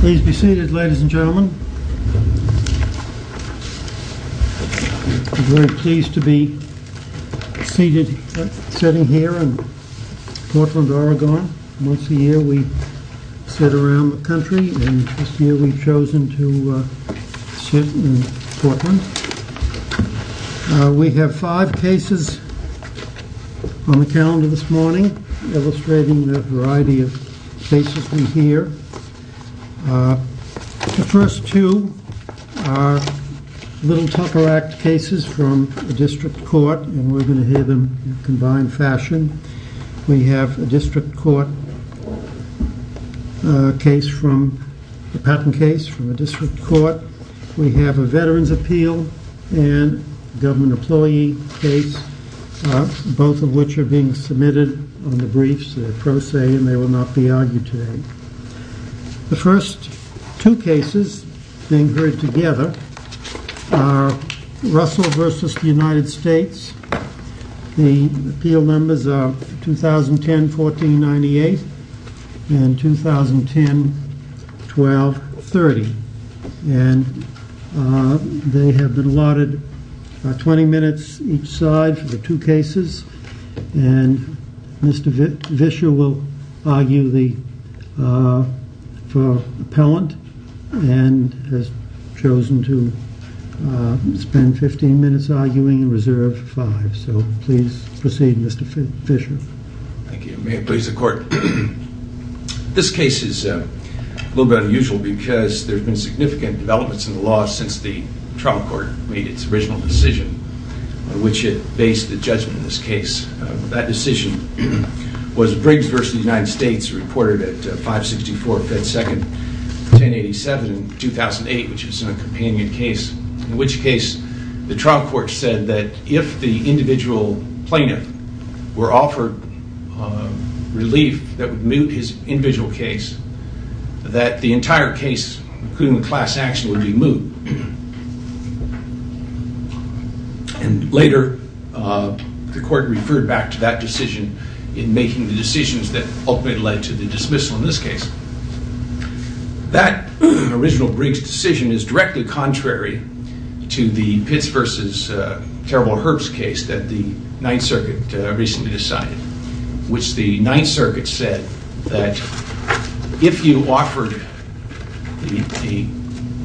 Please be seated, ladies and gentlemen. We're very pleased to be sitting here in Portland, Oregon. Once a year we sit around the country, and this year we've chosen to sit in Portland. We have five cases on the calendar this morning, illustrating the variety of cases we hear. The first two are Little Tupper Act cases from the District Court, and we're going to hear them in combined fashion. We have a patent case from the District Court, we have a Veterans' Appeal, and a Government Employee case, both of which are being submitted on the briefs, they're pro se and they will not be argued today. The first two cases being heard together are Russell v. United States. The appeal numbers are 2010-14-98 and 2010-12-30. They have been allotted 20 minutes each side for the two cases, and Mr. Fischer will argue for appellant, and has chosen to spend 15 minutes arguing in reserve for five. So please proceed, Mr. Fischer. Thank you. May it please the Court. This case is a little bit unusual because there have been significant developments in the law since the trial court made its original decision, on which it based the judgment in this case. That decision was Briggs v. United States, reported at 564 Fed Second 1087 in 2008, which is a companion case, in which case the trial court said that if the individual plaintiff were offered relief that would mute his individual case, that the entire case, including the class action, would be moot. And later the court referred back to that decision in making the decisions that ultimately led to the dismissal in this case. That original Briggs decision is directly contrary to the Pitts v. Terrible Herbst case that the Ninth Circuit recently decided, which the Ninth Circuit said that if you offered the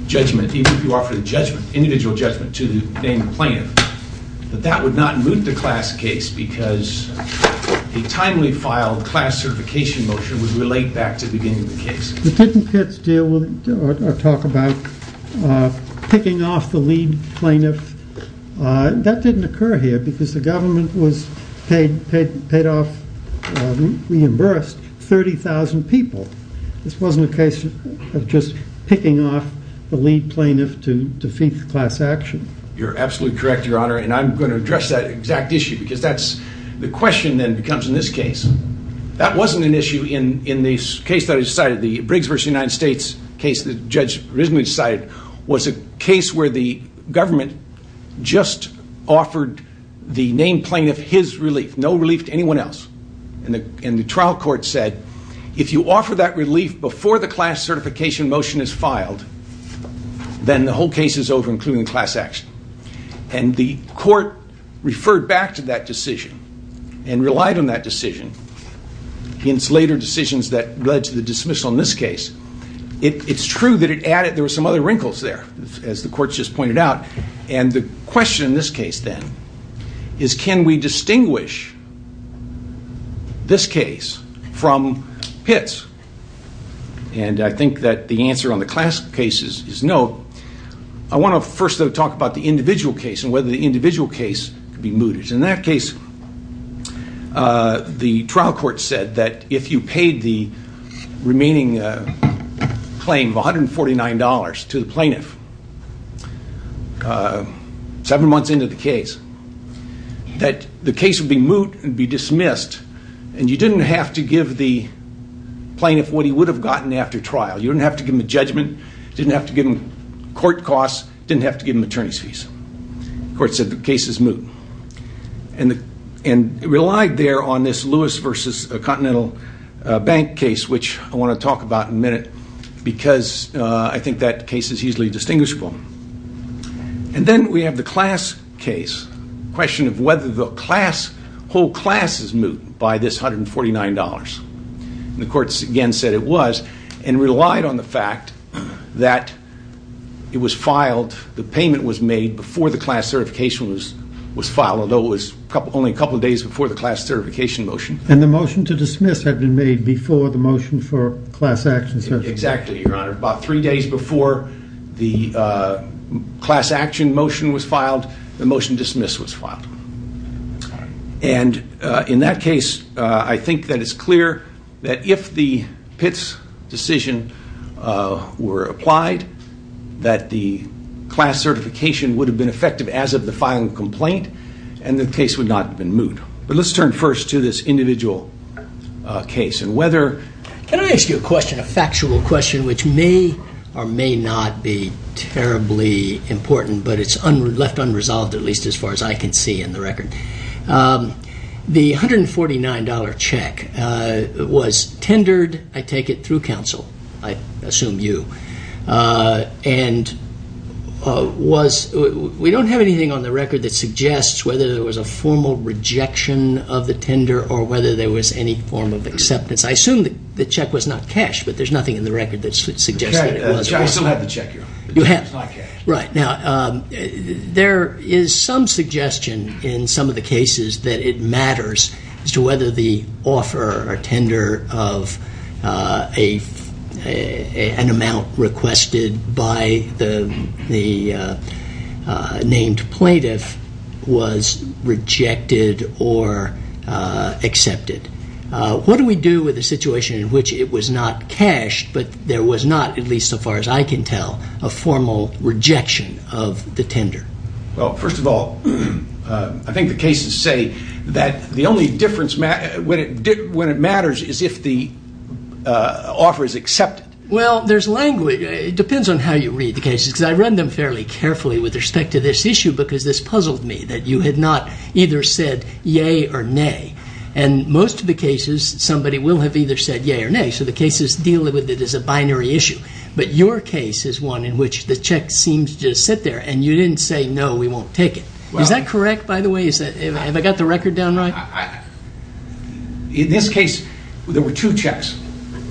judgment, even if you offered an individual judgment to the named plaintiff, that that would not moot the class case because the timely filed class certification motion would relate back to the beginning of the case. But didn't Pitts deal with, or talk about, picking off the lead plaintiff? That didn't occur here because the government was paid off, reimbursed 30,000 people. This wasn't a case of just picking off the lead plaintiff to defeat the class action. You're absolutely correct, Your Honor, and I'm going to address that exact issue because that's the question that becomes in this case. That wasn't an issue in the case that was decided, the Briggs v. United States case that the judge originally decided, was a case where the government just offered the named plaintiff his relief, no relief to anyone else. And the trial court said if you offer that relief before the class certification motion is filed, then the whole case is over, including the class action. And the court referred back to that decision and relied on that decision. Hence, later decisions that led to the dismissal in this case. It's true that it added, there were some other wrinkles there, as the court just pointed out. And the question in this case, then, is can we distinguish this case from Pitts? And I think that the answer on the class cases is no. I want to first, though, talk about the individual case and whether the individual case can be mooted. In that case, the trial court said that if you paid the remaining claim of $149 to the plaintiff seven months into the case, that the case would be moot and be dismissed. And you didn't have to give the plaintiff what he would have gotten after trial. You didn't have to give him a judgment. You didn't have to give him court costs. You didn't have to give him attorney's fees. The court said the case is moot. And it relied there on this Lewis v. Continental Bank case, which I want to talk about in a minute, because I think that case is easily distinguishable. And then we have the class case, the question of whether the whole class is moot by this $149. And the court, again, said it was and relied on the fact that it was filed, the payment was made before the class certification was filed, although it was only a couple of days before the class certification motion. And the motion to dismiss had been made before the motion for class action. Exactly, Your Honor. About three days before the class action motion was filed, the motion to dismiss was filed. And in that case, I think that it's clear that if the Pitts decision were applied, that the class certification would have been effective as of the filing of the complaint, and the case would not have been moot. But let's turn first to this individual case. Can I ask you a question, a factual question, which may or may not be terribly important, but it's left unresolved, at least as far as I can see in the record. The $149 check was tendered, I take it, through counsel, I assume you, and we don't have anything on the record that suggests whether there was a formal rejection of the tender or whether there was any form of acceptance. I assume the check was not cashed, but there's nothing in the record that suggests that it was. I still have the check, Your Honor. You have? It's not cashed. Right. Now, there is some suggestion in some of the cases that it matters as to whether the offer or tender of an amount requested by the named plaintiff was rejected or accepted. What do we do with a situation in which it was not cashed, but there was not, at least so far as I can tell, a formal rejection of the tender? Well, first of all, I think the cases say that the only difference when it matters is if the offer is accepted. Well, there's language. It depends on how you read the cases, because I read them fairly carefully with respect to this issue because this puzzled me, that you had not either said yea or nay. And most of the cases, somebody will have either said yea or nay, so the cases deal with it as a binary issue. But your case is one in which the check seemed to just sit there, and you didn't say no, we won't take it. Is that correct, by the way? Have I got the record down right? In this case, there were two checks.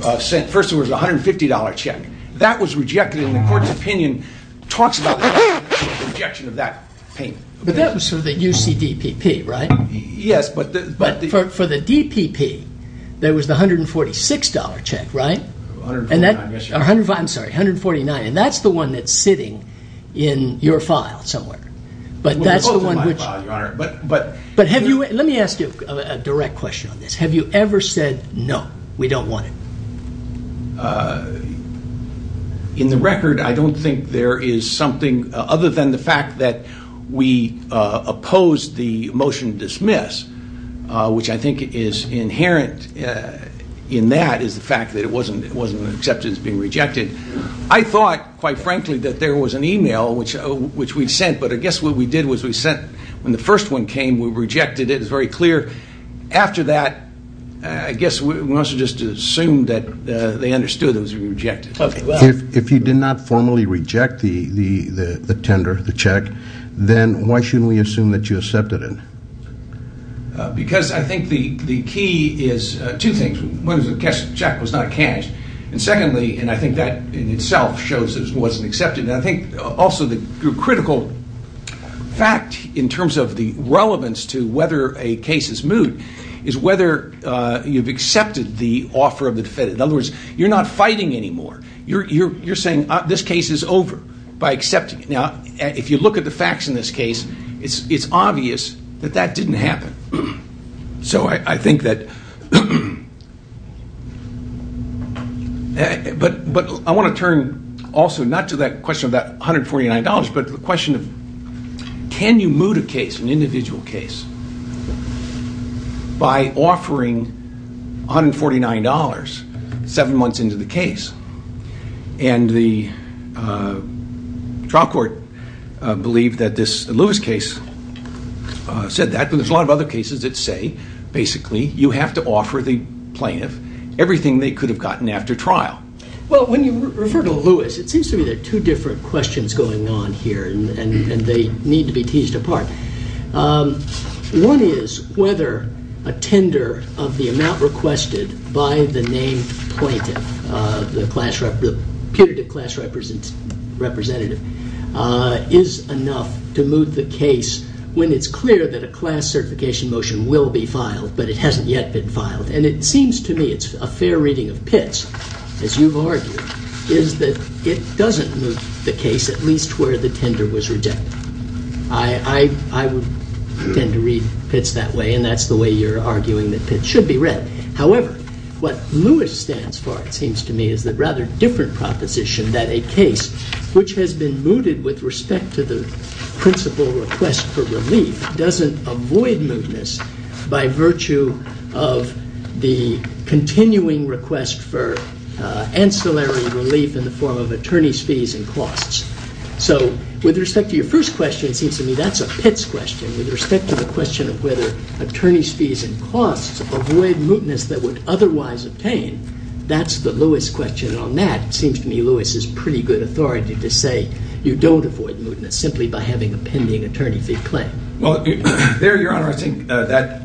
First, there was a $150 check. That was rejected, and the court's opinion talks about the rejection of that payment. But that was for the UCDPP, right? Yes, but the… But for the DPP, that was the $146 check, right? $149, yes, Your Honor. I'm sorry, $149. And that's the one that's sitting in your file somewhere. But that's the one which… It was posted in my file, Your Honor, but… But let me ask you a direct question on this. Have you ever said no, we don't want it? In the record, I don't think there is something other than the fact that we opposed the motion to dismiss, which I think is inherent in that is the fact that it wasn't accepted as being rejected. I thought, quite frankly, that there was an email which we'd sent, but I guess what we did was we sent… When the first one came, we rejected it. It was very clear. After that, I guess we must have just assumed that they understood it was being rejected. If you did not formally reject the tender, the check, then why shouldn't we assume that you accepted it? Because I think the key is two things. One is the check was not cashed. And secondly, and I think that in itself shows it wasn't accepted. And I think also the critical fact in terms of the relevance to whether a case is moot is whether you've accepted the offer of the defendant. In other words, you're not fighting anymore. You're saying this case is over by accepting it. Now, if you look at the facts in this case, it's obvious that that didn't happen. So I think that… But I want to turn also not to that question of that $149, but the question of can you moot a case, an individual case, by offering $149 seven months into the case? And the trial court believed that this Lewis case said that, but there's a lot of other cases that say basically you have to offer the plaintiff everything they could have gotten after trial. Well, when you refer to Lewis, it seems to me there are two different questions going on here, and they need to be teased apart. One is whether a tender of the amount requested by the named plaintiff, the putative class representative, is enough to moot the case when it's clear that a class certification motion will be filed, but it hasn't yet been filed. And it seems to me it's a fair reading of Pitts, as you've argued, is that it doesn't moot the case at least where the tender was rejected. I would tend to read Pitts that way, and that's the way you're arguing that Pitts should be read. However, what Lewis stands for, it seems to me, is the rather different proposition that a case which has been mooted with respect to the principal request for relief doesn't avoid mootness by virtue of the continuing request for ancillary relief in the form of attorney's fees and costs. So with respect to your first question, it seems to me that's a Pitts question. With respect to the question of whether attorney's fees and costs avoid mootness that would otherwise obtain, that's the Lewis question. And on that, it seems to me Lewis has pretty good authority to say you don't avoid mootness simply by having a pending attorney fee claim. Well, there, Your Honor, I think that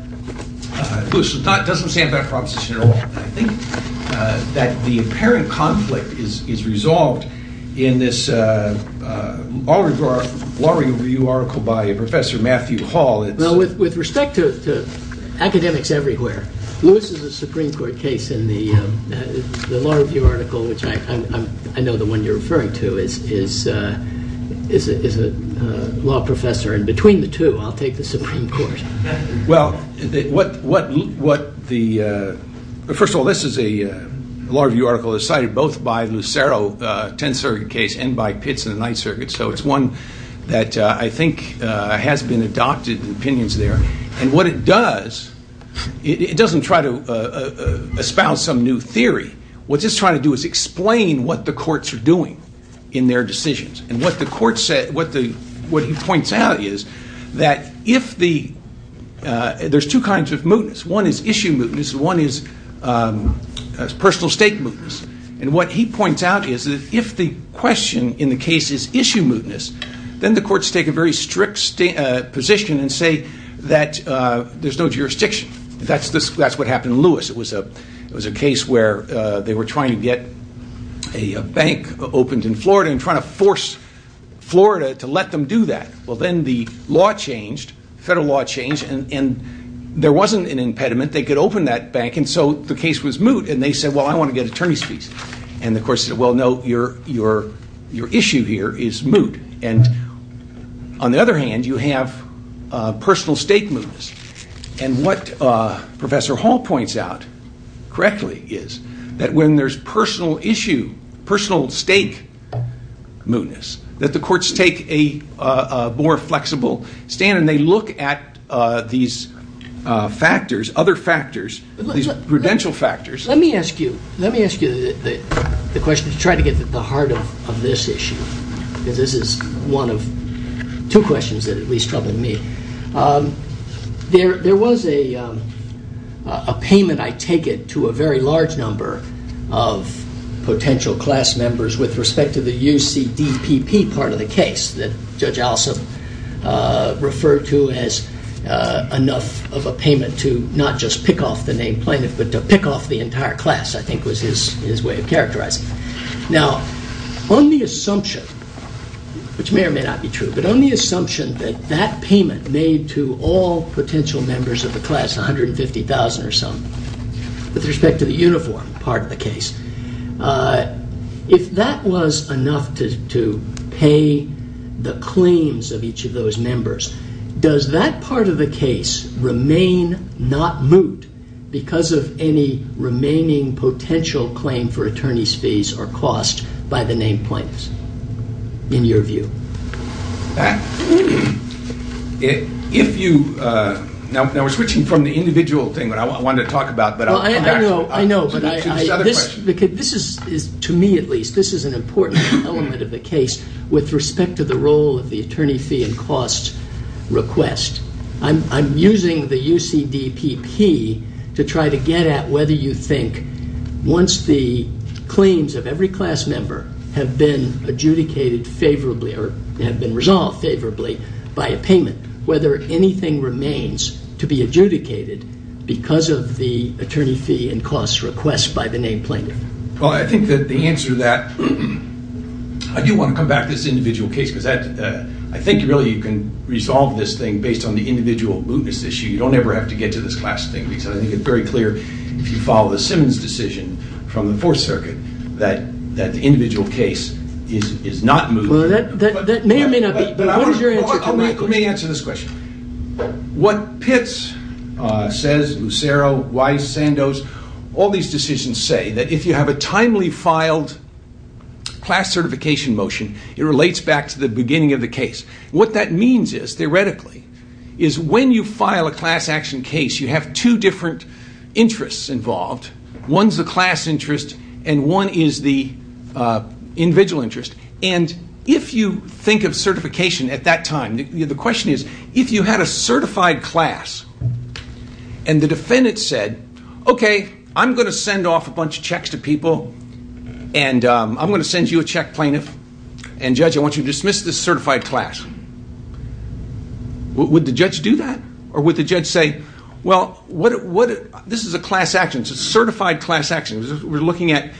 Lewis doesn't stand by the proposition at all. I think that the apparent conflict is resolved in this Law Review article by Professor Matthew Hall. Well, with respect to academics everywhere, Lewis is a Supreme Court case in the Law Review article, which I know the one you're referring to is a law professor. And between the two, I'll take the Supreme Court. Well, first of all, this Law Review article is cited both by Lucero, the Tenth Circuit case, and by Pitts in the Ninth Circuit. So it's one that I think has been adopted in opinions there. And what it does, it doesn't try to espouse some new theory. What it's trying to do is explain what the courts are doing in their decisions. And what he points out is that there's two kinds of mootness. One is issue mootness, and one is personal stake mootness. And what he points out is that if the question in the case is issue mootness, then the courts take a very strict position and say that there's no jurisdiction. That's what happened in Lewis. It was a case where they were trying to get a bank opened in Florida and trying to force Florida to let them do that. Well, then the law changed, federal law changed, and there wasn't an impediment. They could open that bank, and so the case was moot. And they said, well, I want to get attorney's fees. And the courts said, well, no, your issue here is moot. And on the other hand, you have personal stake mootness. And what Professor Hall points out correctly is that when there's personal issue, personal stake mootness, that the courts take a more flexible stand, and they look at these factors, other factors, these prudential factors. Let me ask you the question to try to get to the heart of this issue, because this is one of two questions that at least troubled me. There was a payment, I take it, to a very large number of potential class members with respect to the UCDPP part of the case that Judge Alsop referred to as enough of a payment to not just pick off the named plaintiff but to pick off the entire class, I think was his way of characterizing it. Now, on the assumption, which may or may not be true, but on the assumption that that payment made to all potential members of the class, 150,000 or so, with respect to the uniform part of the case, if that was enough to pay the claims of each of those members, does that part of the case remain not moot because of any remaining potential claim for attorney's fees or cost by the named plaintiffs, in your view? Now, we're switching from the individual thing that I wanted to talk about. I know, I know. This is, to me at least, this is an important element of the case with respect to the role of the attorney fee and cost request. I'm using the UCDPP to try to get at whether you think once the claims of every class member have been adjudicated favorably or have been resolved favorably by a payment, whether anything remains to be adjudicated because of the attorney fee and cost request by the named plaintiff. Well, I think that the answer to that, I do want to come back to this individual case because I think really you can resolve this thing based on the individual mootness issue. You don't ever have to get to this class thing because I think it's very clear if you follow the Simmons decision from the Fourth Circuit that the individual case is not moot. That may or may not be, but what is your answer to that question? Let me answer this question. What Pitts says, Lucero, Wise, Sandoz, all these decisions say that if you have a timely filed class certification motion, it relates back to the beginning of the case. What that means is, theoretically, is when you file a class action case you have two different interests involved. One is the class interest and one is the individual interest. And if you think of certification at that time, the question is if you had a certified class and the defendant said, okay, I'm going to send off a bunch of checks to people and I'm going to send you a check plaintiff and judge, I want you to dismiss this certified class. Would the judge do that? Or would the judge say, well, this is a class action, it's a certified class action. We're looking at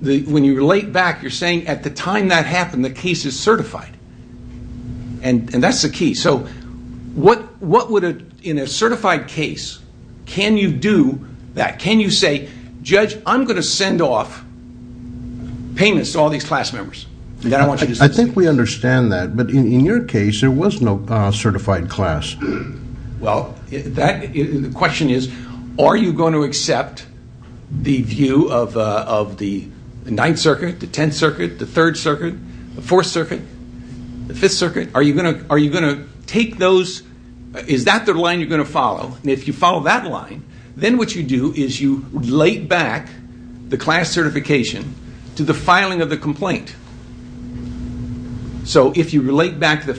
when you relate back, you're saying at the time that happened the case is certified. And that's the key. So what would, in a certified case, can you do that? Can you say, judge, I'm going to send off payments to all these class members? I think we understand that. But in your case, there was no certified class. Well, the question is, are you going to accept the view of the 9th Circuit, the 10th Circuit, the 3rd Circuit, the 4th Circuit, the 5th Circuit? Are you going to take those? Is that the line you're going to follow? And if you follow that line, then what you do is you relate back the class certification to the filing of the complaint. So if you relate back to the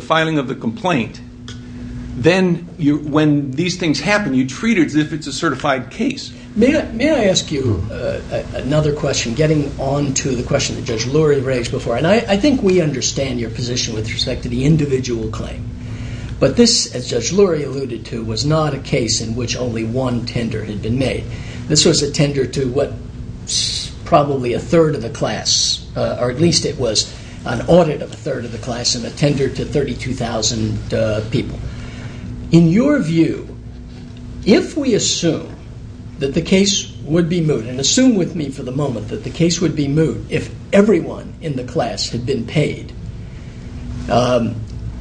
filing of the complaint, then when these things happen, you treat it as if it's a certified case. May I ask you another question, getting on to the question that Judge Lurie raised before. And I think we understand your position with respect to the individual claim. But this, as Judge Lurie alluded to, was not a case in which only one tender had been made. This was a tender to probably a third of the class, or at least it was an audit of a third of the class and a tender to 32,000 people. In your view, if we assume that the case would be moved, and assume with me for the moment that the case would be moved if everyone in the class had been paid,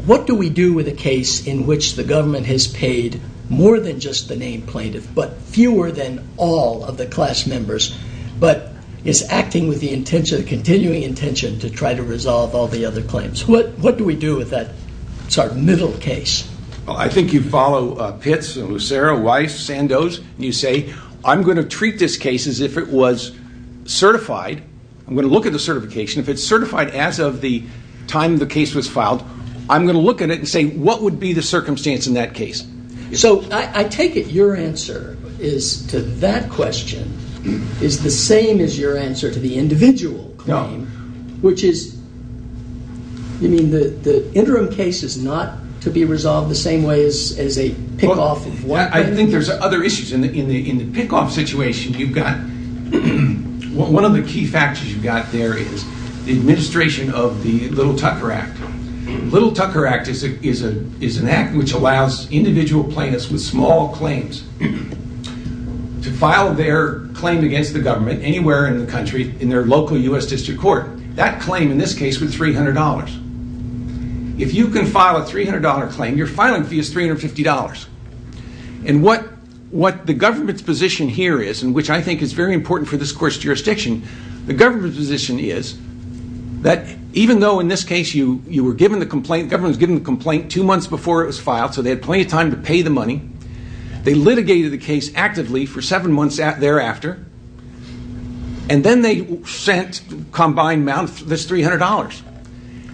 what do we do with a case in which the government has paid more than just the named plaintiff, but fewer than all of the class members, but is acting with the continuing intention to try to resolve all the other claims? What do we do with that middle case? I think you follow Pitts, Lucero, Weiss, Sandoz, and you say, I'm going to treat this case as if it was certified. I'm going to look at the certification. If it's certified as of the time the case was filed, I'm going to look at it and say, what would be the circumstance in that case? So I take it your answer to that question is the same as your answer to the individual claim, which is, you mean the interim case is not to be resolved the same way as a pick-off of one plaintiff? I think there's other issues. In the pick-off situation, one of the key factors you've got there is the administration of the Little Tucker Act. The Little Tucker Act is an act which allows individual plaintiffs with small claims to file their claim against the government anywhere in the country in their local U.S. District Court. That claim, in this case, was $300. If you can file a $300 claim, your filing fee is $350. And what the government's position here is, and which I think is very important for this court's jurisdiction, the government's position is that even though in this case you were given the complaint, the government was given the complaint two months before it was filed, so they had plenty of time to pay the money, they litigated the case actively for seven months thereafter, and then they sent combined amount, this $300.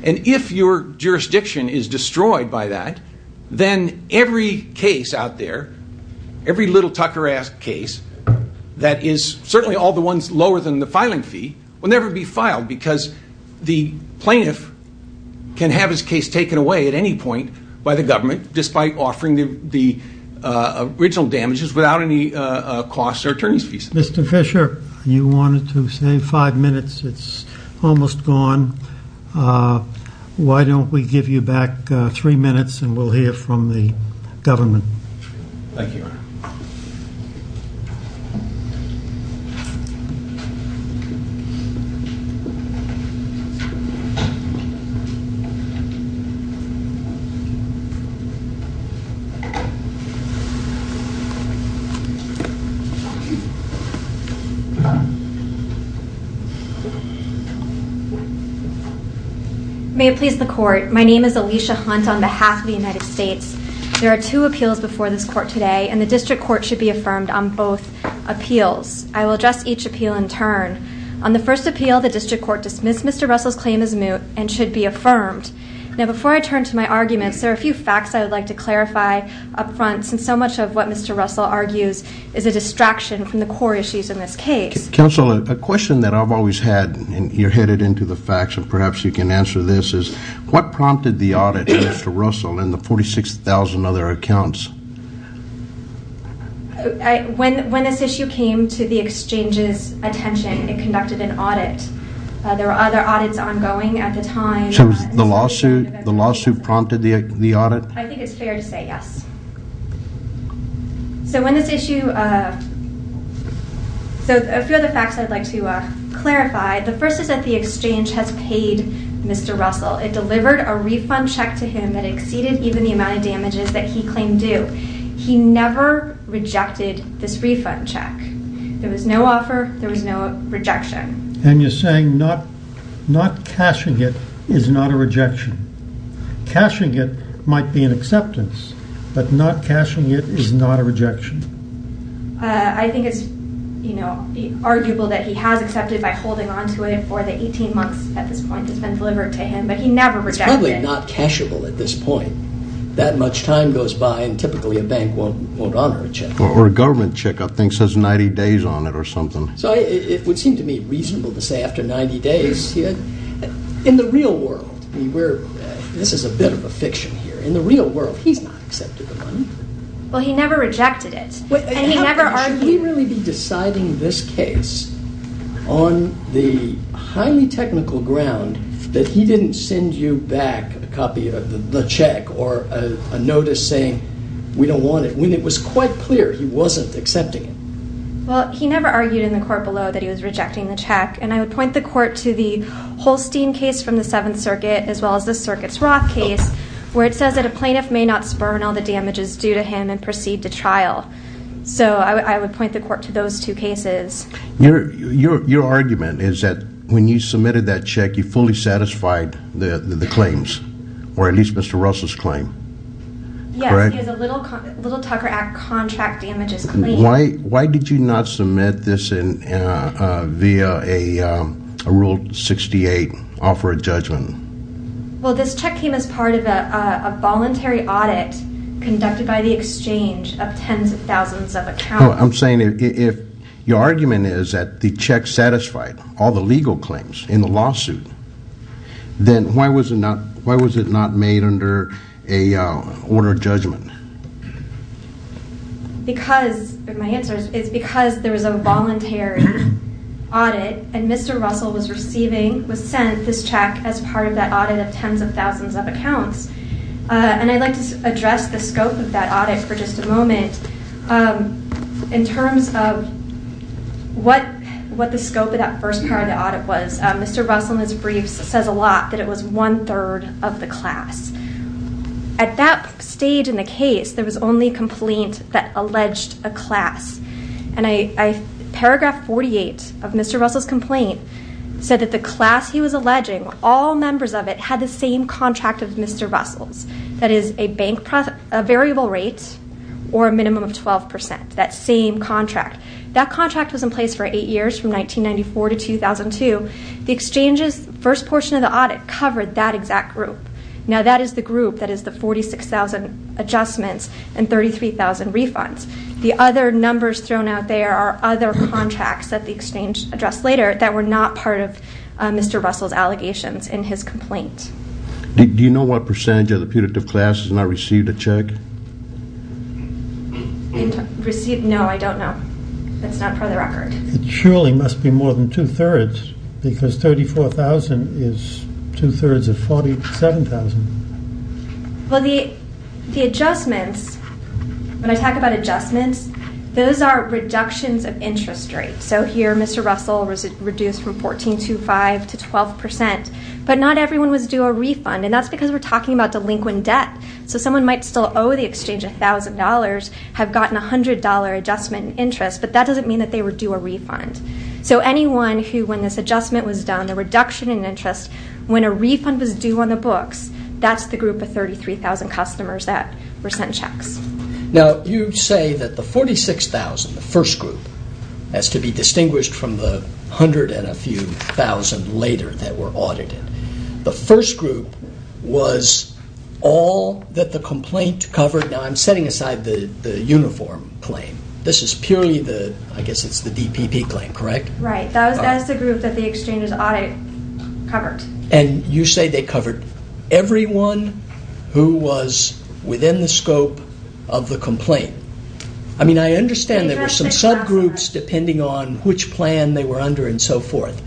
And if your jurisdiction is destroyed by that, then every case out there, every Little Tucker Act case that is certainly all the ones lower than the filing fee, will never be filed because the plaintiff can have his case taken away at any point by the government, despite offering the original damages without any costs or attorney's fees. Mr. Fisher, you wanted to say five minutes. It's almost gone. Why don't we give you back three minutes and we'll hear from the government. May it please the court. My name is Alicia Hunt on behalf of the United States. There are two appeals before this court today, and the district court should be affirmed on both appeals. I will address each appeal in turn. On the first appeal, the district court dismissed Mr. Russell's claim as moot and should be affirmed. Now, before I turn to my arguments, there are a few facts I would like to clarify up front since so much of what Mr. Russell argues is a distraction from the core issues in this case. Counsel, a question that I've always had, and you're headed into the facts and perhaps you can answer this, is what prompted the audit against Mr. Russell and the 46,000 other accounts? When this issue came to the exchange's attention, it conducted an audit. There were other audits ongoing at the time. So the lawsuit prompted the audit? I think it's fair to say yes. So when this issue... So a few other facts I'd like to clarify. The first is that the exchange has paid Mr. Russell. It delivered a refund check to him that exceeded even the amount of damages that he claimed due. He never rejected this refund check. There was no offer. There was no rejection. And you're saying not cashing it is not a rejection. Cashing it might be an acceptance, but not cashing it is not a rejection? I think it's arguable that he has accepted by holding on to it for the 18 months at this point it's been delivered to him, but he never rejected it. It's probably not cashable at this point. That much time goes by and typically a bank won't honor a check. Or a government check I think says 90 days on it or something. So it would seem to me reasonable to say after 90 days. In the real world, this is a bit of a fiction here, but in the real world he's not accepted the money. Well, he never rejected it. Should he really be deciding this case on the highly technical ground that he didn't send you back a copy of the check or a notice saying we don't want it when it was quite clear he wasn't accepting it? Well, he never argued in the court below that he was rejecting the check. And I would point the court to the Holstein case from the Seventh Circuit as well as the Circuits Roth case where it says that a plaintiff may not spurn all the damages due to him and proceed to trial. So I would point the court to those two cases. Your argument is that when you submitted that check you fully satisfied the claims or at least Mr. Russell's claim, correct? Yes, he has a Little Tucker Act contract damages claim. Why did you not submit this via a Rule 68 offer of judgment? Well, this check came as part of a voluntary audit conducted by the exchange of tens of thousands of accounts. I'm saying if your argument is that the check satisfied all the legal claims in the lawsuit, then why was it not made under an order of judgment? My answer is because there was a voluntary audit and Mr. Russell was sent this check as part of that audit of tens of thousands of accounts. And I'd like to address the scope of that audit for just a moment in terms of what the scope of that first part of the audit was. Mr. Russell in his briefs says a lot that it was one-third of the class. At that stage in the case, there was only a complaint that alleged a class. And paragraph 48 of Mr. Russell's complaint said that the class he was alleging, all members of it had the same contract of Mr. Russell's. That is a variable rate or a minimum of 12 percent, that same contract. That contract was in place for eight years from 1994 to 2002. The exchange's first portion of the audit covered that exact group. Now that is the group that is the 46,000 adjustments and 33,000 refunds. The other numbers thrown out there are other contracts that the exchange addressed later that were not part of Mr. Russell's allegations in his complaint. Do you know what percentage of the putative class has not received a check? Received? No, I don't know. That's not part of the record. It surely must be more than two-thirds because 34,000 is two-thirds of 47,000. Well, the adjustments, when I talk about adjustments, those are reductions of interest rates. So here Mr. Russell was reduced from 14.25 to 12 percent, but not everyone was due a refund, and that's because we're talking about delinquent debt. So someone might still owe the exchange $1,000, have gotten a $100 adjustment in interest, but that doesn't mean that they were due a refund. So anyone who, when this adjustment was done, the reduction in interest, when a refund was due on the books, that's the group of 33,000 customers that were sent checks. Now, you say that the 46,000, the first group, has to be distinguished from the 100 and a few thousand later that were audited. The first group was all that the complaint covered. Now, I'm setting aside the uniform claim. This is purely the, I guess it's the DPP claim, correct? Right, that's the group that the exchanges audit covered. And you say they covered everyone who was within the scope of the complaint. I mean, I understand there were some subgroups depending on which plan they were under and so forth,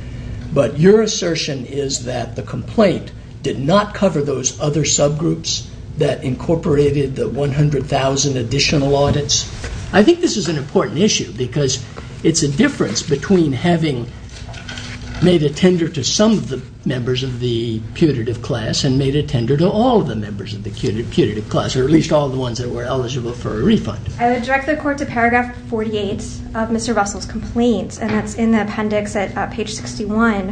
but your assertion is that the complaint did not cover those other subgroups that incorporated the 100,000 additional audits? I think this is an important issue because it's a difference between having made a tender to some of the members of the putative class and made a tender to all of the members of the putative class, or at least all the ones that were eligible for a refund. I would direct the Court to paragraph 48 of Mr. Russell's complaint, and that's in the appendix at page 61.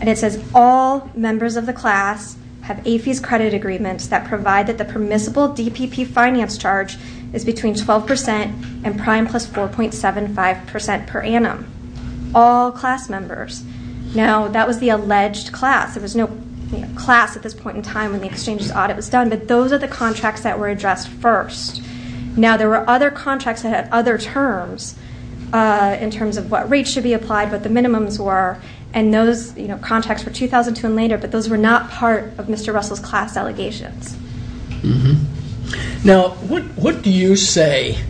And it says, all members of the class have AFI's credit agreements that provide that the permissible DPP finance charge is between 12% and prime plus 4.75% per annum. All class members. Now, that was the alleged class. There was no class at this point in time when the exchanges audit was done, but those are the contracts that were addressed first. Now, there were other contracts that had other terms in terms of what rates should be applied, but those were not part of Mr. Russell's class allegations. Now, what do you say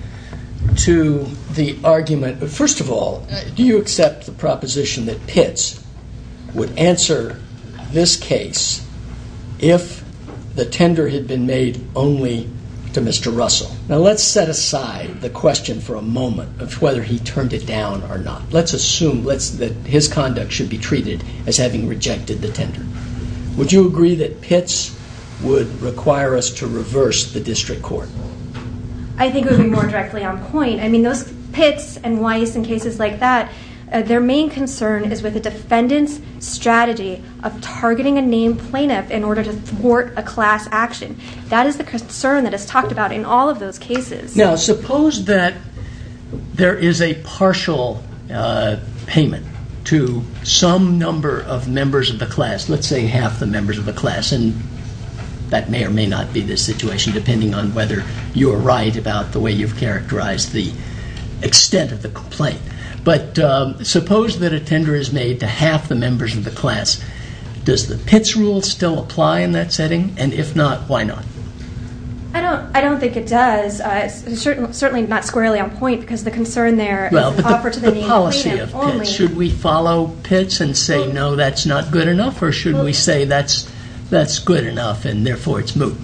to the argument? First of all, do you accept the proposition that Pitts would answer this case if the tender had been made only to Mr. Russell? Now, let's set aside the question for a moment of whether he turned it down or not. Let's assume that his conduct should be treated as having rejected the tender. Would you agree that Pitts would require us to reverse the District Court? I think it would be more directly on point. I mean, those Pitts and Weiss and cases like that, their main concern is with the defendant's strategy of targeting a named plaintiff in order to thwart a class action. That is the concern that is talked about in all of those cases. Now, suppose that there is a partial payment to some number of members of the class, let's say half the members of the class, and that may or may not be the situation depending on whether you are right about the way you've characterized the extent of the complaint. But suppose that a tender is made to half the members of the class. Does the Pitts rule still apply in that setting? And if not, why not? I don't think it does. It's certainly not squarely on point because the concern there is offered to the name plaintiff only. Should we follow Pitts and say, no, that's not good enough, or should we say that's good enough and therefore it's moot?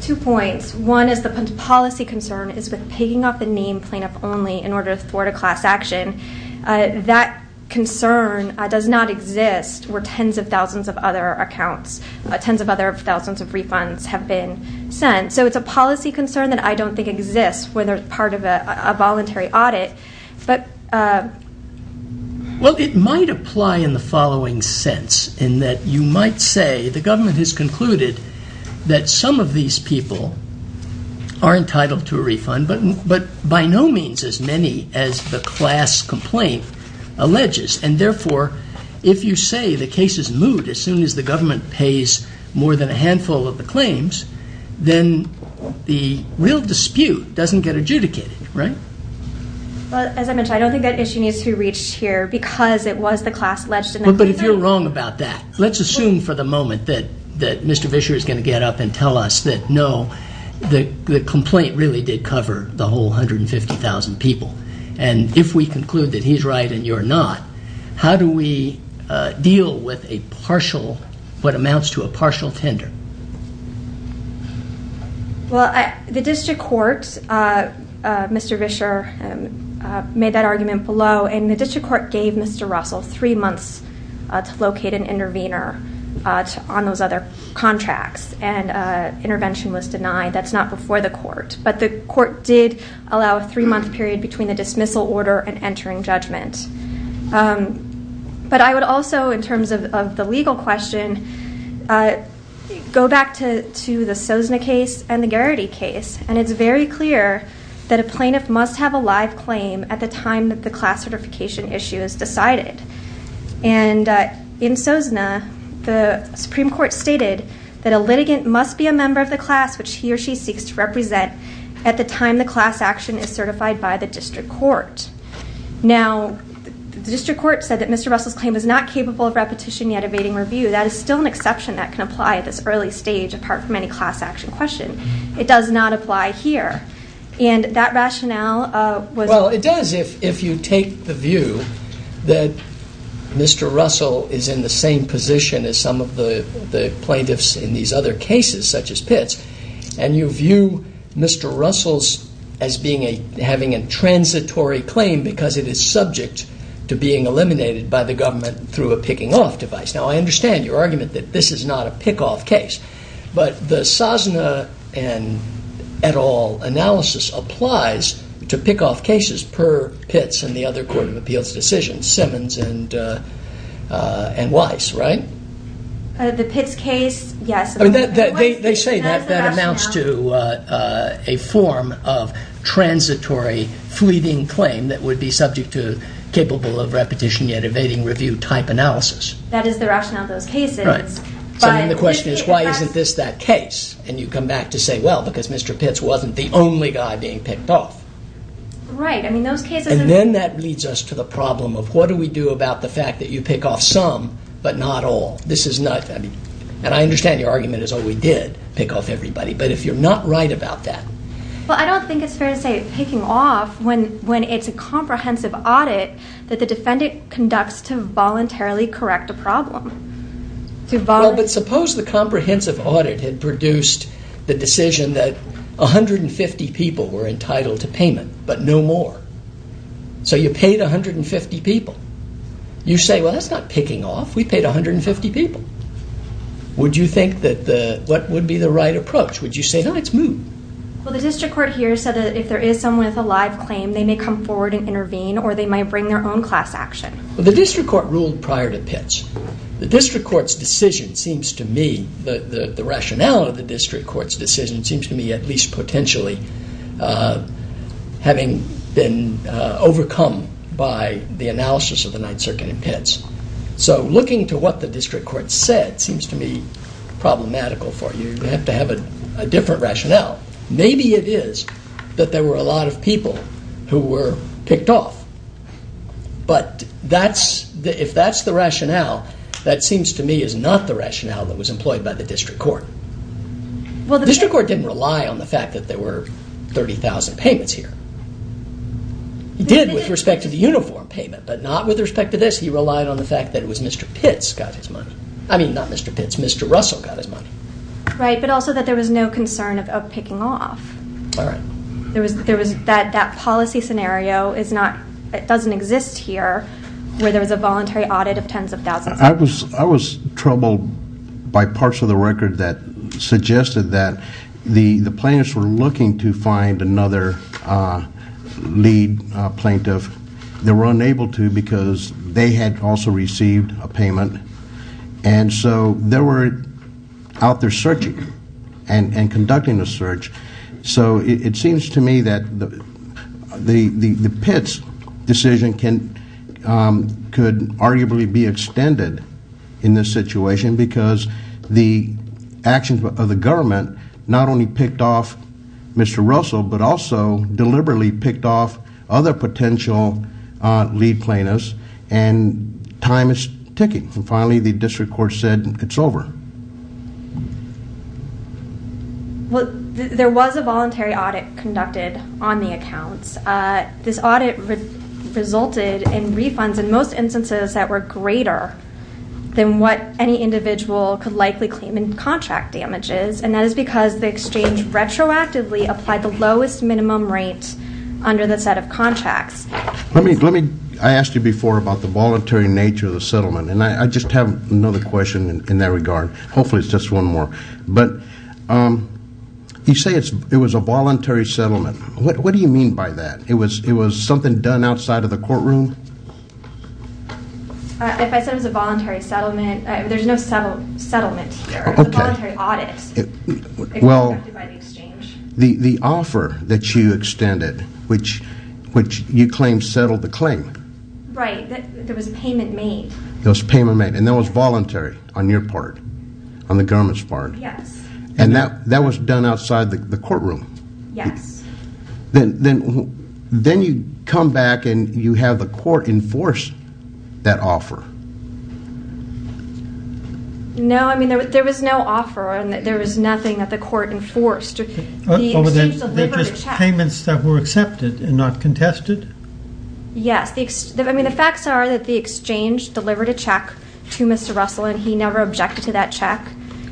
Two points. One is the policy concern is with picking off the name plaintiff only in order to thwart a class action. That concern does not exist where tens of thousands of other accounts, tens of other thousands of refunds have been sent. So it's a policy concern that I don't think exists when they're part of a voluntary audit. Well, it might apply in the following sense, in that you might say the government has concluded that some of these people are entitled to a refund, but by no means as many as the class complaint alleges. And therefore, if you say the case is moot as soon as the government pays more than a handful of the claims, then the real dispute doesn't get adjudicated, right? As I mentioned, I don't think that issue needs to be reached here because it was the class alleged in the claim. But if you're wrong about that, let's assume for the moment that Mr. Vischer is going to get up and tell us that, no, the complaint really did cover the whole 150,000 people. And if we conclude that he's right and you're not, how do we deal with a partial, what amounts to a partial tender? Well, the district court, Mr. Vischer, made that argument below. And the district court gave Mr. Russell three months to locate an intervener on those other contracts. And intervention was denied. That's not before the court. But the court did allow a three-month period between the dismissal order and entering judgment. But I would also, in terms of the legal question, go back to the Sozna case and the Garrity case. And it's very clear that a plaintiff must have a live claim at the time that the class certification issue is decided. And in Sozna, the Supreme Court stated that a litigant must be a member of the class which he or she seeks to represent at the time the class action is certified by the district court. Now, the district court said that Mr. Russell's claim is not capable of repetition yet evading review. That is still an exception that can apply at this early stage, apart from any class action question. It does not apply here. And that rationale was- If you take the view that Mr. Russell is in the same position as some of the plaintiffs in these other cases, such as Pitts, and you view Mr. Russell's as having a transitory claim because it is subject to being eliminated by the government through a picking-off device. Now, I understand your argument that this is not a pick-off case. But the Sozna et al. analysis applies to pick-off cases per Pitts and the other court of appeals decisions, Simmons and Weiss, right? The Pitts case, yes. They say that that amounts to a form of transitory fleeting claim that would be subject to capable of repetition yet evading review type analysis. That is the rationale of those cases. Right. So then the question is, why isn't this that case? And you come back to say, well, because Mr. Pitts wasn't the only guy being picked off. Right. I mean, those cases- And then that leads us to the problem of what do we do about the fact that you pick off some but not all? This is not- And I understand your argument is, oh, we did pick off everybody. But if you're not right about that- Well, I don't think it's fair to say picking off when it's a comprehensive audit that the defendant conducts to voluntarily correct a problem. Well, but suppose the comprehensive audit had produced the decision that 150 people were entitled to payment but no more. So you paid 150 people. You say, well, that's not picking off. We paid 150 people. Would you think that the- what would be the right approach? Would you say, no, it's moot? Well, the district court here said that if there is someone with a live claim, they may come forward and intervene or they might bring their own class action. Well, the district court ruled prior to Pitts. The district court's decision seems to me- the rationale of the district court's decision seems to me at least potentially having been overcome by the analysis of the Ninth Circuit in Pitts. So looking to what the district court said seems to me problematical for you. You have to have a different rationale. Maybe it is that there were a lot of people who were picked off. But that's- if that's the rationale, that seems to me is not the rationale that was employed by the district court. The district court didn't rely on the fact that there were 30,000 payments here. It did with respect to the uniform payment, but not with respect to this. He relied on the fact that it was Mr. Pitts got his money. I mean, not Mr. Pitts. Mr. Russell got his money. Right, but also that there was no concern of picking off. All right. There was- that policy scenario is not- it doesn't exist here where there was a voluntary audit of tens of thousands. I was troubled by parts of the record that suggested that the plaintiffs were looking to find another lead plaintiff. They were unable to because they had also received a payment, and so they were out there searching and conducting the search. So it seems to me that the Pitts decision could arguably be extended in this situation because the actions of the government not only picked off Mr. Russell, but also deliberately picked off other potential lead plaintiffs, and time is ticking. Finally, the district court said it's over. Well, there was a voluntary audit conducted on the accounts. This audit resulted in refunds in most instances that were greater than what any individual could likely claim in contract damages, and that is because the exchange retroactively applied the lowest minimum rate under the set of contracts. Let me- I asked you before about the voluntary nature of the settlement, and I just have another question in that regard. Hopefully it's just one more. But you say it was a voluntary settlement. What do you mean by that? It was something done outside of the courtroom? If I said it was a voluntary settlement, there's no settlement here. Okay. It was a voluntary audit conducted by the exchange. The offer that you extended, which you claim settled the claim. Right. There was a payment made. There was a payment made, and that was voluntary on your part, on the government's part. Yes. And that was done outside the courtroom. Yes. Then you come back and you have the court enforce that offer. No, I mean there was no offer, and there was nothing that the court enforced. The exchange delivered the check. They're just payments that were accepted and not contested? Yes. I mean the facts are that the exchange delivered a check to Mr. Russell, and he never objected to that check.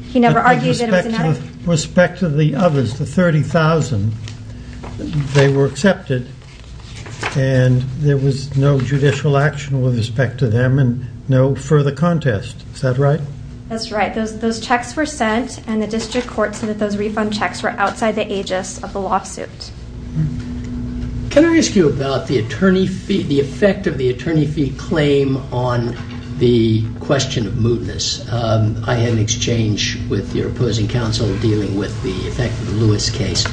He never argued that it was an audit. With respect to the others, the 30,000, they were accepted, and there was no judicial action with respect to them and no further contest. Is that right? That's right. Those checks were sent, and the district court said that those refund checks were outside the aegis of the lawsuit. Can I ask you about the effect of the attorney fee claim on the question of mootness? I had an exchange with your opposing counsel dealing with the effect of the Lewis case.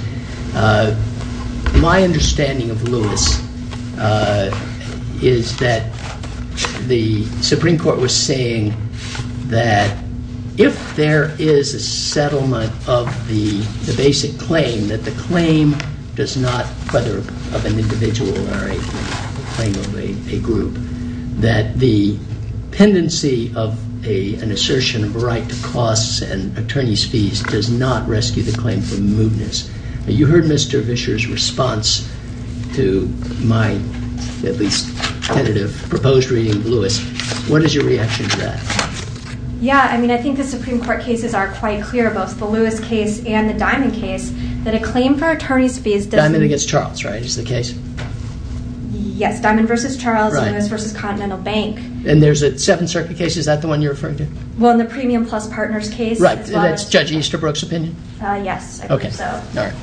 My understanding of Lewis is that the Supreme Court was saying that if there is a settlement of the basic claim, that the claim does not, whether of an individual or a claim of a group, that the pendency of an assertion of a right to costs and attorney's fees does not rescue the claim for mootness. You heard Mr. Vischer's response to my, at least tentative, proposed reading of Lewis. What is your reaction to that? I think the Supreme Court cases are quite clear, both the Lewis case and the Diamond case, that a claim for attorney's fees does not… Diamond against Charles, right, is the case? Yes, Diamond versus Charles, Lewis versus Continental Bank. And there's a Seventh Circuit case, is that the one you're referring to? Well, in the Premium Plus Partners case. That's Judge Easterbrook's opinion? Yes, I think so.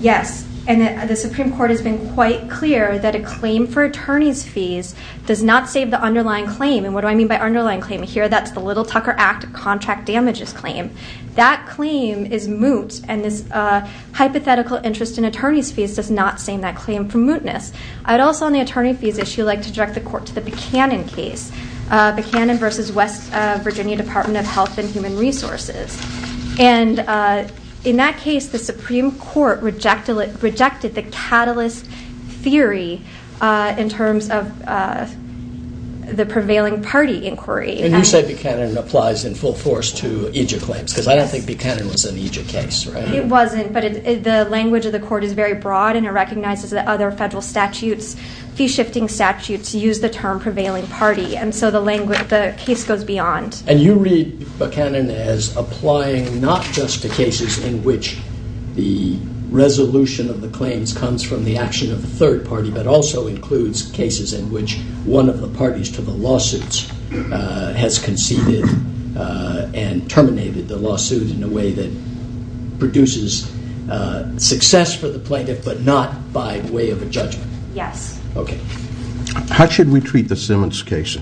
Yes, and the Supreme Court has been quite clear that a claim for attorney's fees does not save the underlying claim. And what do I mean by underlying claim? Here, that's the Little Tucker Act contract damages claim. That claim is moot, and this hypothetical interest in attorney's fees does not save that claim from mootness. I'd also, on the attorney fees issue, like to direct the court to the Buchanan case, Buchanan versus West Virginia Department of Health and Human Resources. And in that case, the Supreme Court rejected the catalyst theory in terms of the prevailing party inquiry. And you say Buchanan applies in full force to EJIA claims, because I don't think Buchanan was an EJIA case, right? It wasn't, but the language of the court is very broad, and it recognizes that other federal statutes, fee-shifting statutes, use the term prevailing party, and so the case goes beyond. And you read Buchanan as applying not just to cases in which the resolution of the claims comes from the action of the third party, but also includes cases in which one of the parties to the lawsuits has conceded and terminated the lawsuit in a way that produces success for the plaintiff, but not by way of a judgment. Yes. Okay. How should we treat the Simmons case?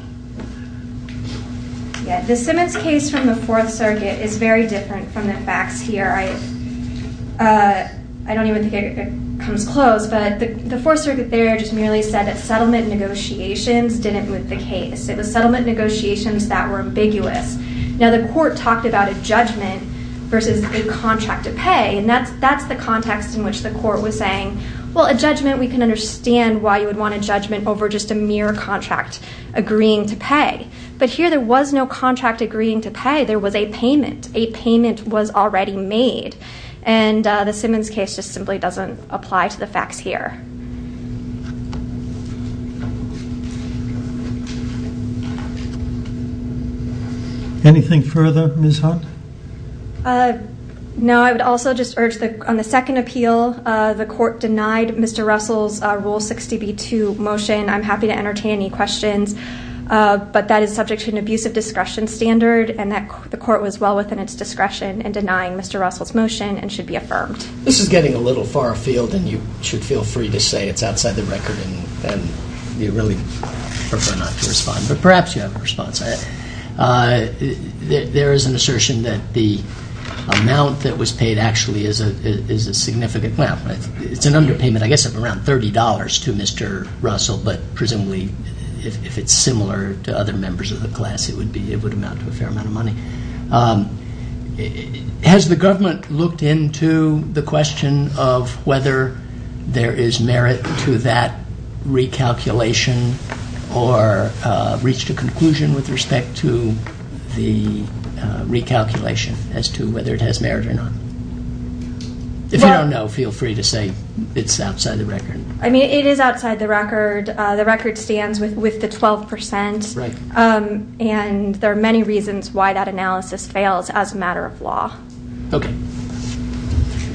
Yeah. The Simmons case from the Fourth Circuit is very different from the facts here. I don't even think it comes close, but the Fourth Circuit there just merely said that settlement negotiations didn't move the case. It was settlement negotiations that were ambiguous. Now, the court talked about a judgment versus a contract to pay, and that's the context in which the court was saying, well, a judgment, we can understand why you would want a judgment over just a mere contract agreeing to pay, but here there was no contract agreeing to pay. There was a payment. A payment was already made, and the Simmons case just simply doesn't apply to the facts here. Anything further, Ms. Hunt? No. I would also just urge on the second appeal, the court denied Mr. Russell's Rule 60b-2 motion. I'm happy to entertain any questions, but that is subject to an abusive discretion standard, and the court was well within its discretion in denying Mr. Russell's motion and should be affirmed. This is getting a little far afield, and you should feel free to say it's outside the record, and you really prefer not to respond, but perhaps you have a response. There is an assertion that the amount that was paid actually is a significant amount. It's an underpayment, I guess, of around $30 to Mr. Russell, but presumably if it's similar to other members of the class, it would amount to a fair amount of money. Has the government looked into the question of whether there is merit to that recalculation or reached a conclusion with respect to the recalculation as to whether it has merit or not? If you don't know, feel free to say it's outside the record. I mean, it is outside the record. The record stands with the 12%, and there are many reasons why that analysis fails as a matter of law. Okay.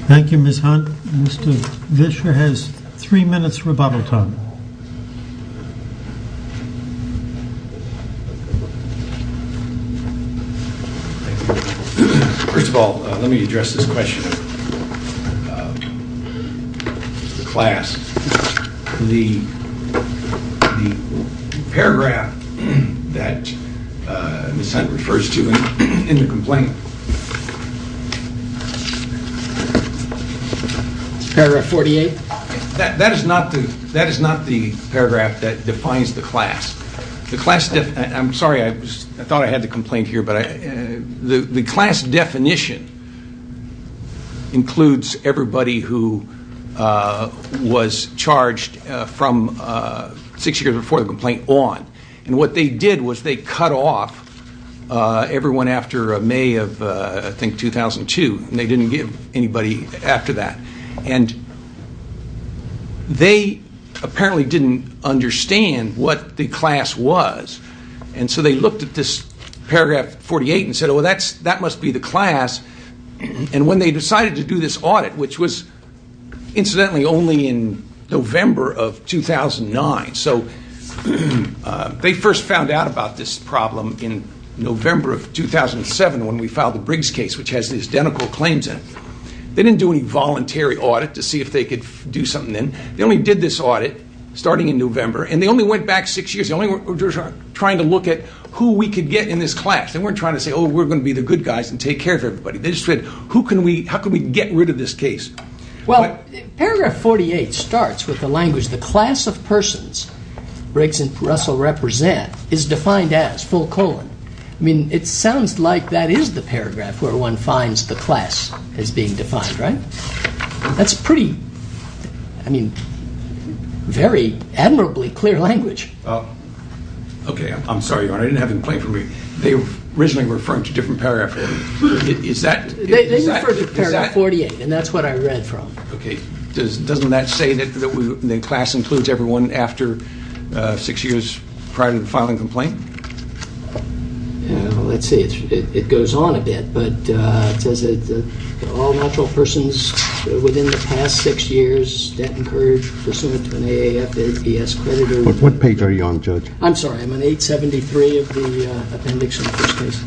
Thank you, Ms. Hunt. Mr. Vischer has three minutes rebuttal time. First of all, let me address this question. The class, the paragraph that Ms. Hunt refers to in the complaint. Paragraph 48? That is not the paragraph that defines the class. I'm sorry. I thought I had the complaint here, but the class definition includes everybody who was charged from six years before the complaint on. And what they did was they cut off everyone after May of, I think, 2002, and they didn't give anybody after that. And they apparently didn't understand what the class was. And so they looked at this paragraph 48 and said, well, that must be the class. And when they decided to do this audit, which was incidentally only in November of 2009, so they first found out about this problem in November of 2007 when we filed the Briggs case, which has the identical claims in it. They didn't do any voluntary audit to see if they could do something then. They only did this audit starting in November, and they only went back six years. They only were trying to look at who we could get in this class. They weren't trying to say, oh, we're going to be the good guys and take care of everybody. They just said, how can we get rid of this case? Well, paragraph 48 starts with the language, the class of persons Briggs and Russell represent is defined as full colon. I mean, it sounds like that is the paragraph where one finds the class as being defined, right? That's pretty, I mean, very admirably clear language. Okay. I'm sorry, Your Honor. I didn't have it in plain for me. They were originally referring to a different paragraph. They referred to paragraph 48, and that's what I read from. Okay. Doesn't that say that class includes everyone after six years prior to the filing complaint? Well, let's see. It goes on a bit. But it says that all natural persons within the past six years that incurred pursuant to an AAFDS creditor. What page are you on, Judge? I'm sorry. I'm on 873 of the appendix in the first case.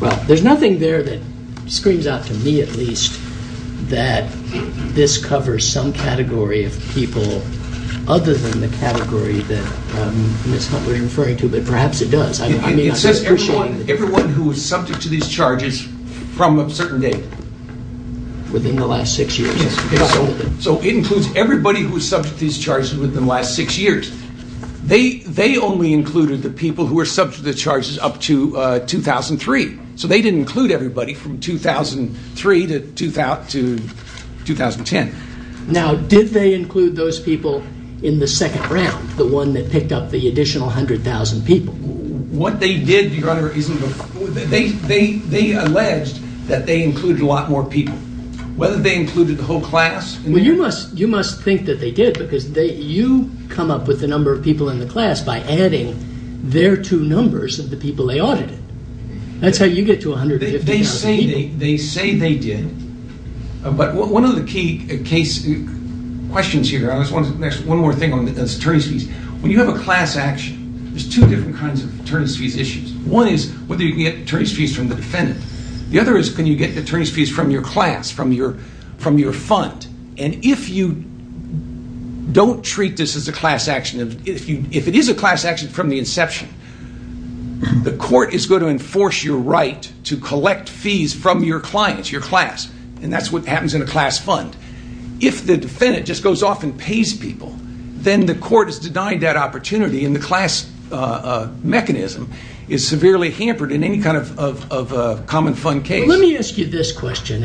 Well, there's nothing there that screams out to me at least that this covers some category of people other than the category that Ms. Hunt was referring to, but perhaps it does. It says everyone who is subject to these charges from a certain date. Within the last six years. So it includes everybody who is subject to these charges within the last six years. They only included the people who were subject to the charges up to 2003. So they didn't include everybody from 2003 to 2010. Now, did they include those people in the second round, the one that picked up the additional 100,000 people? What they did, Your Honor, they alleged that they included a lot more people. Whether they included the whole class… Well, you must think that they did because you come up with the number of people in the class by adding their two numbers of the people they audited. That's how you get to 150,000 people. They say they did. But one of the key questions here, Your Honor, there's one more thing on attorney's fees. When you have a class action, there's two different kinds of attorney's fees issues. One is whether you can get attorney's fees from the defendant. The other is can you get attorney's fees from your class, from your fund. And if you don't treat this as a class action, if it is a class action from the inception, the court is going to enforce your right to collect fees from your clients, your class. And that's what happens in a class fund. If the defendant just goes off and pays people, then the court is denying that opportunity and the class mechanism is severely hampered in any kind of common fund case. Let me ask you this question.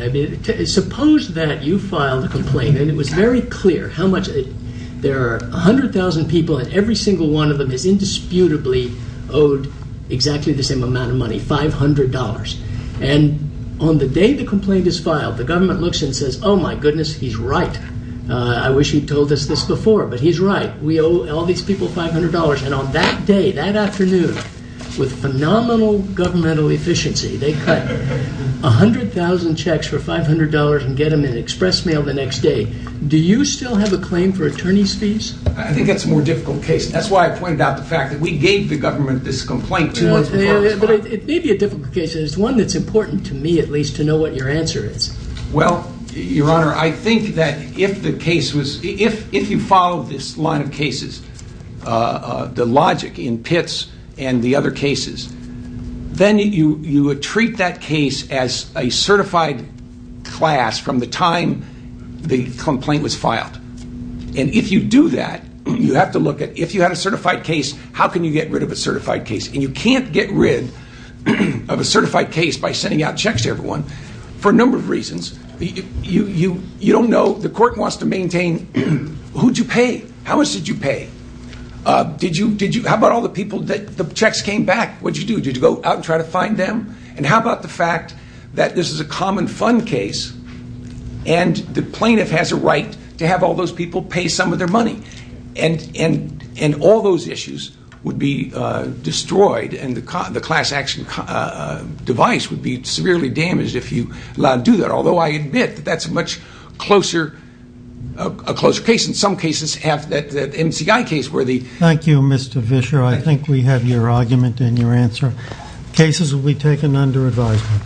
Suppose that you filed a complaint and it was very clear how much there are 100,000 people and every single one of them is indisputably owed exactly the same amount of money, $500. And on the day the complaint is filed, the government looks and says, oh my goodness, he's right. I wish he told us this before, but he's right. We owe all these people $500. And on that day, that afternoon, with phenomenal governmental efficiency, they cut 100,000 checks for $500 and get them in express mail the next day. Do you still have a claim for attorney's fees? I think that's a more difficult case. That's why I pointed out the fact that we gave the government this complaint two months before it was filed. It may be a difficult case, but it's one that's important to me, at least, to know what your answer is. Well, Your Honor, I think that if you follow this line of cases, the logic in Pitts and the other cases, then you would treat that case as a certified class from the time the complaint was filed. And if you do that, you have to look at if you had a certified case, how can you get rid of a certified case? And you can't get rid of a certified case by sending out checks to everyone for a number of reasons. You don't know. The court wants to maintain, who did you pay? How much did you pay? How about all the people that the checks came back? What did you do? Did you go out and try to find them? And how about the fact that this is a common fund case, and the plaintiff has a right to have all those people pay some of their money? And all those issues would be destroyed, and the class action device would be severely damaged if you allowed to do that, although I admit that that's a much closer case. In some cases, the MCI case where the... Thank you, Mr. Fischer. I think we have your argument and your answer. Cases will be taken under advisement.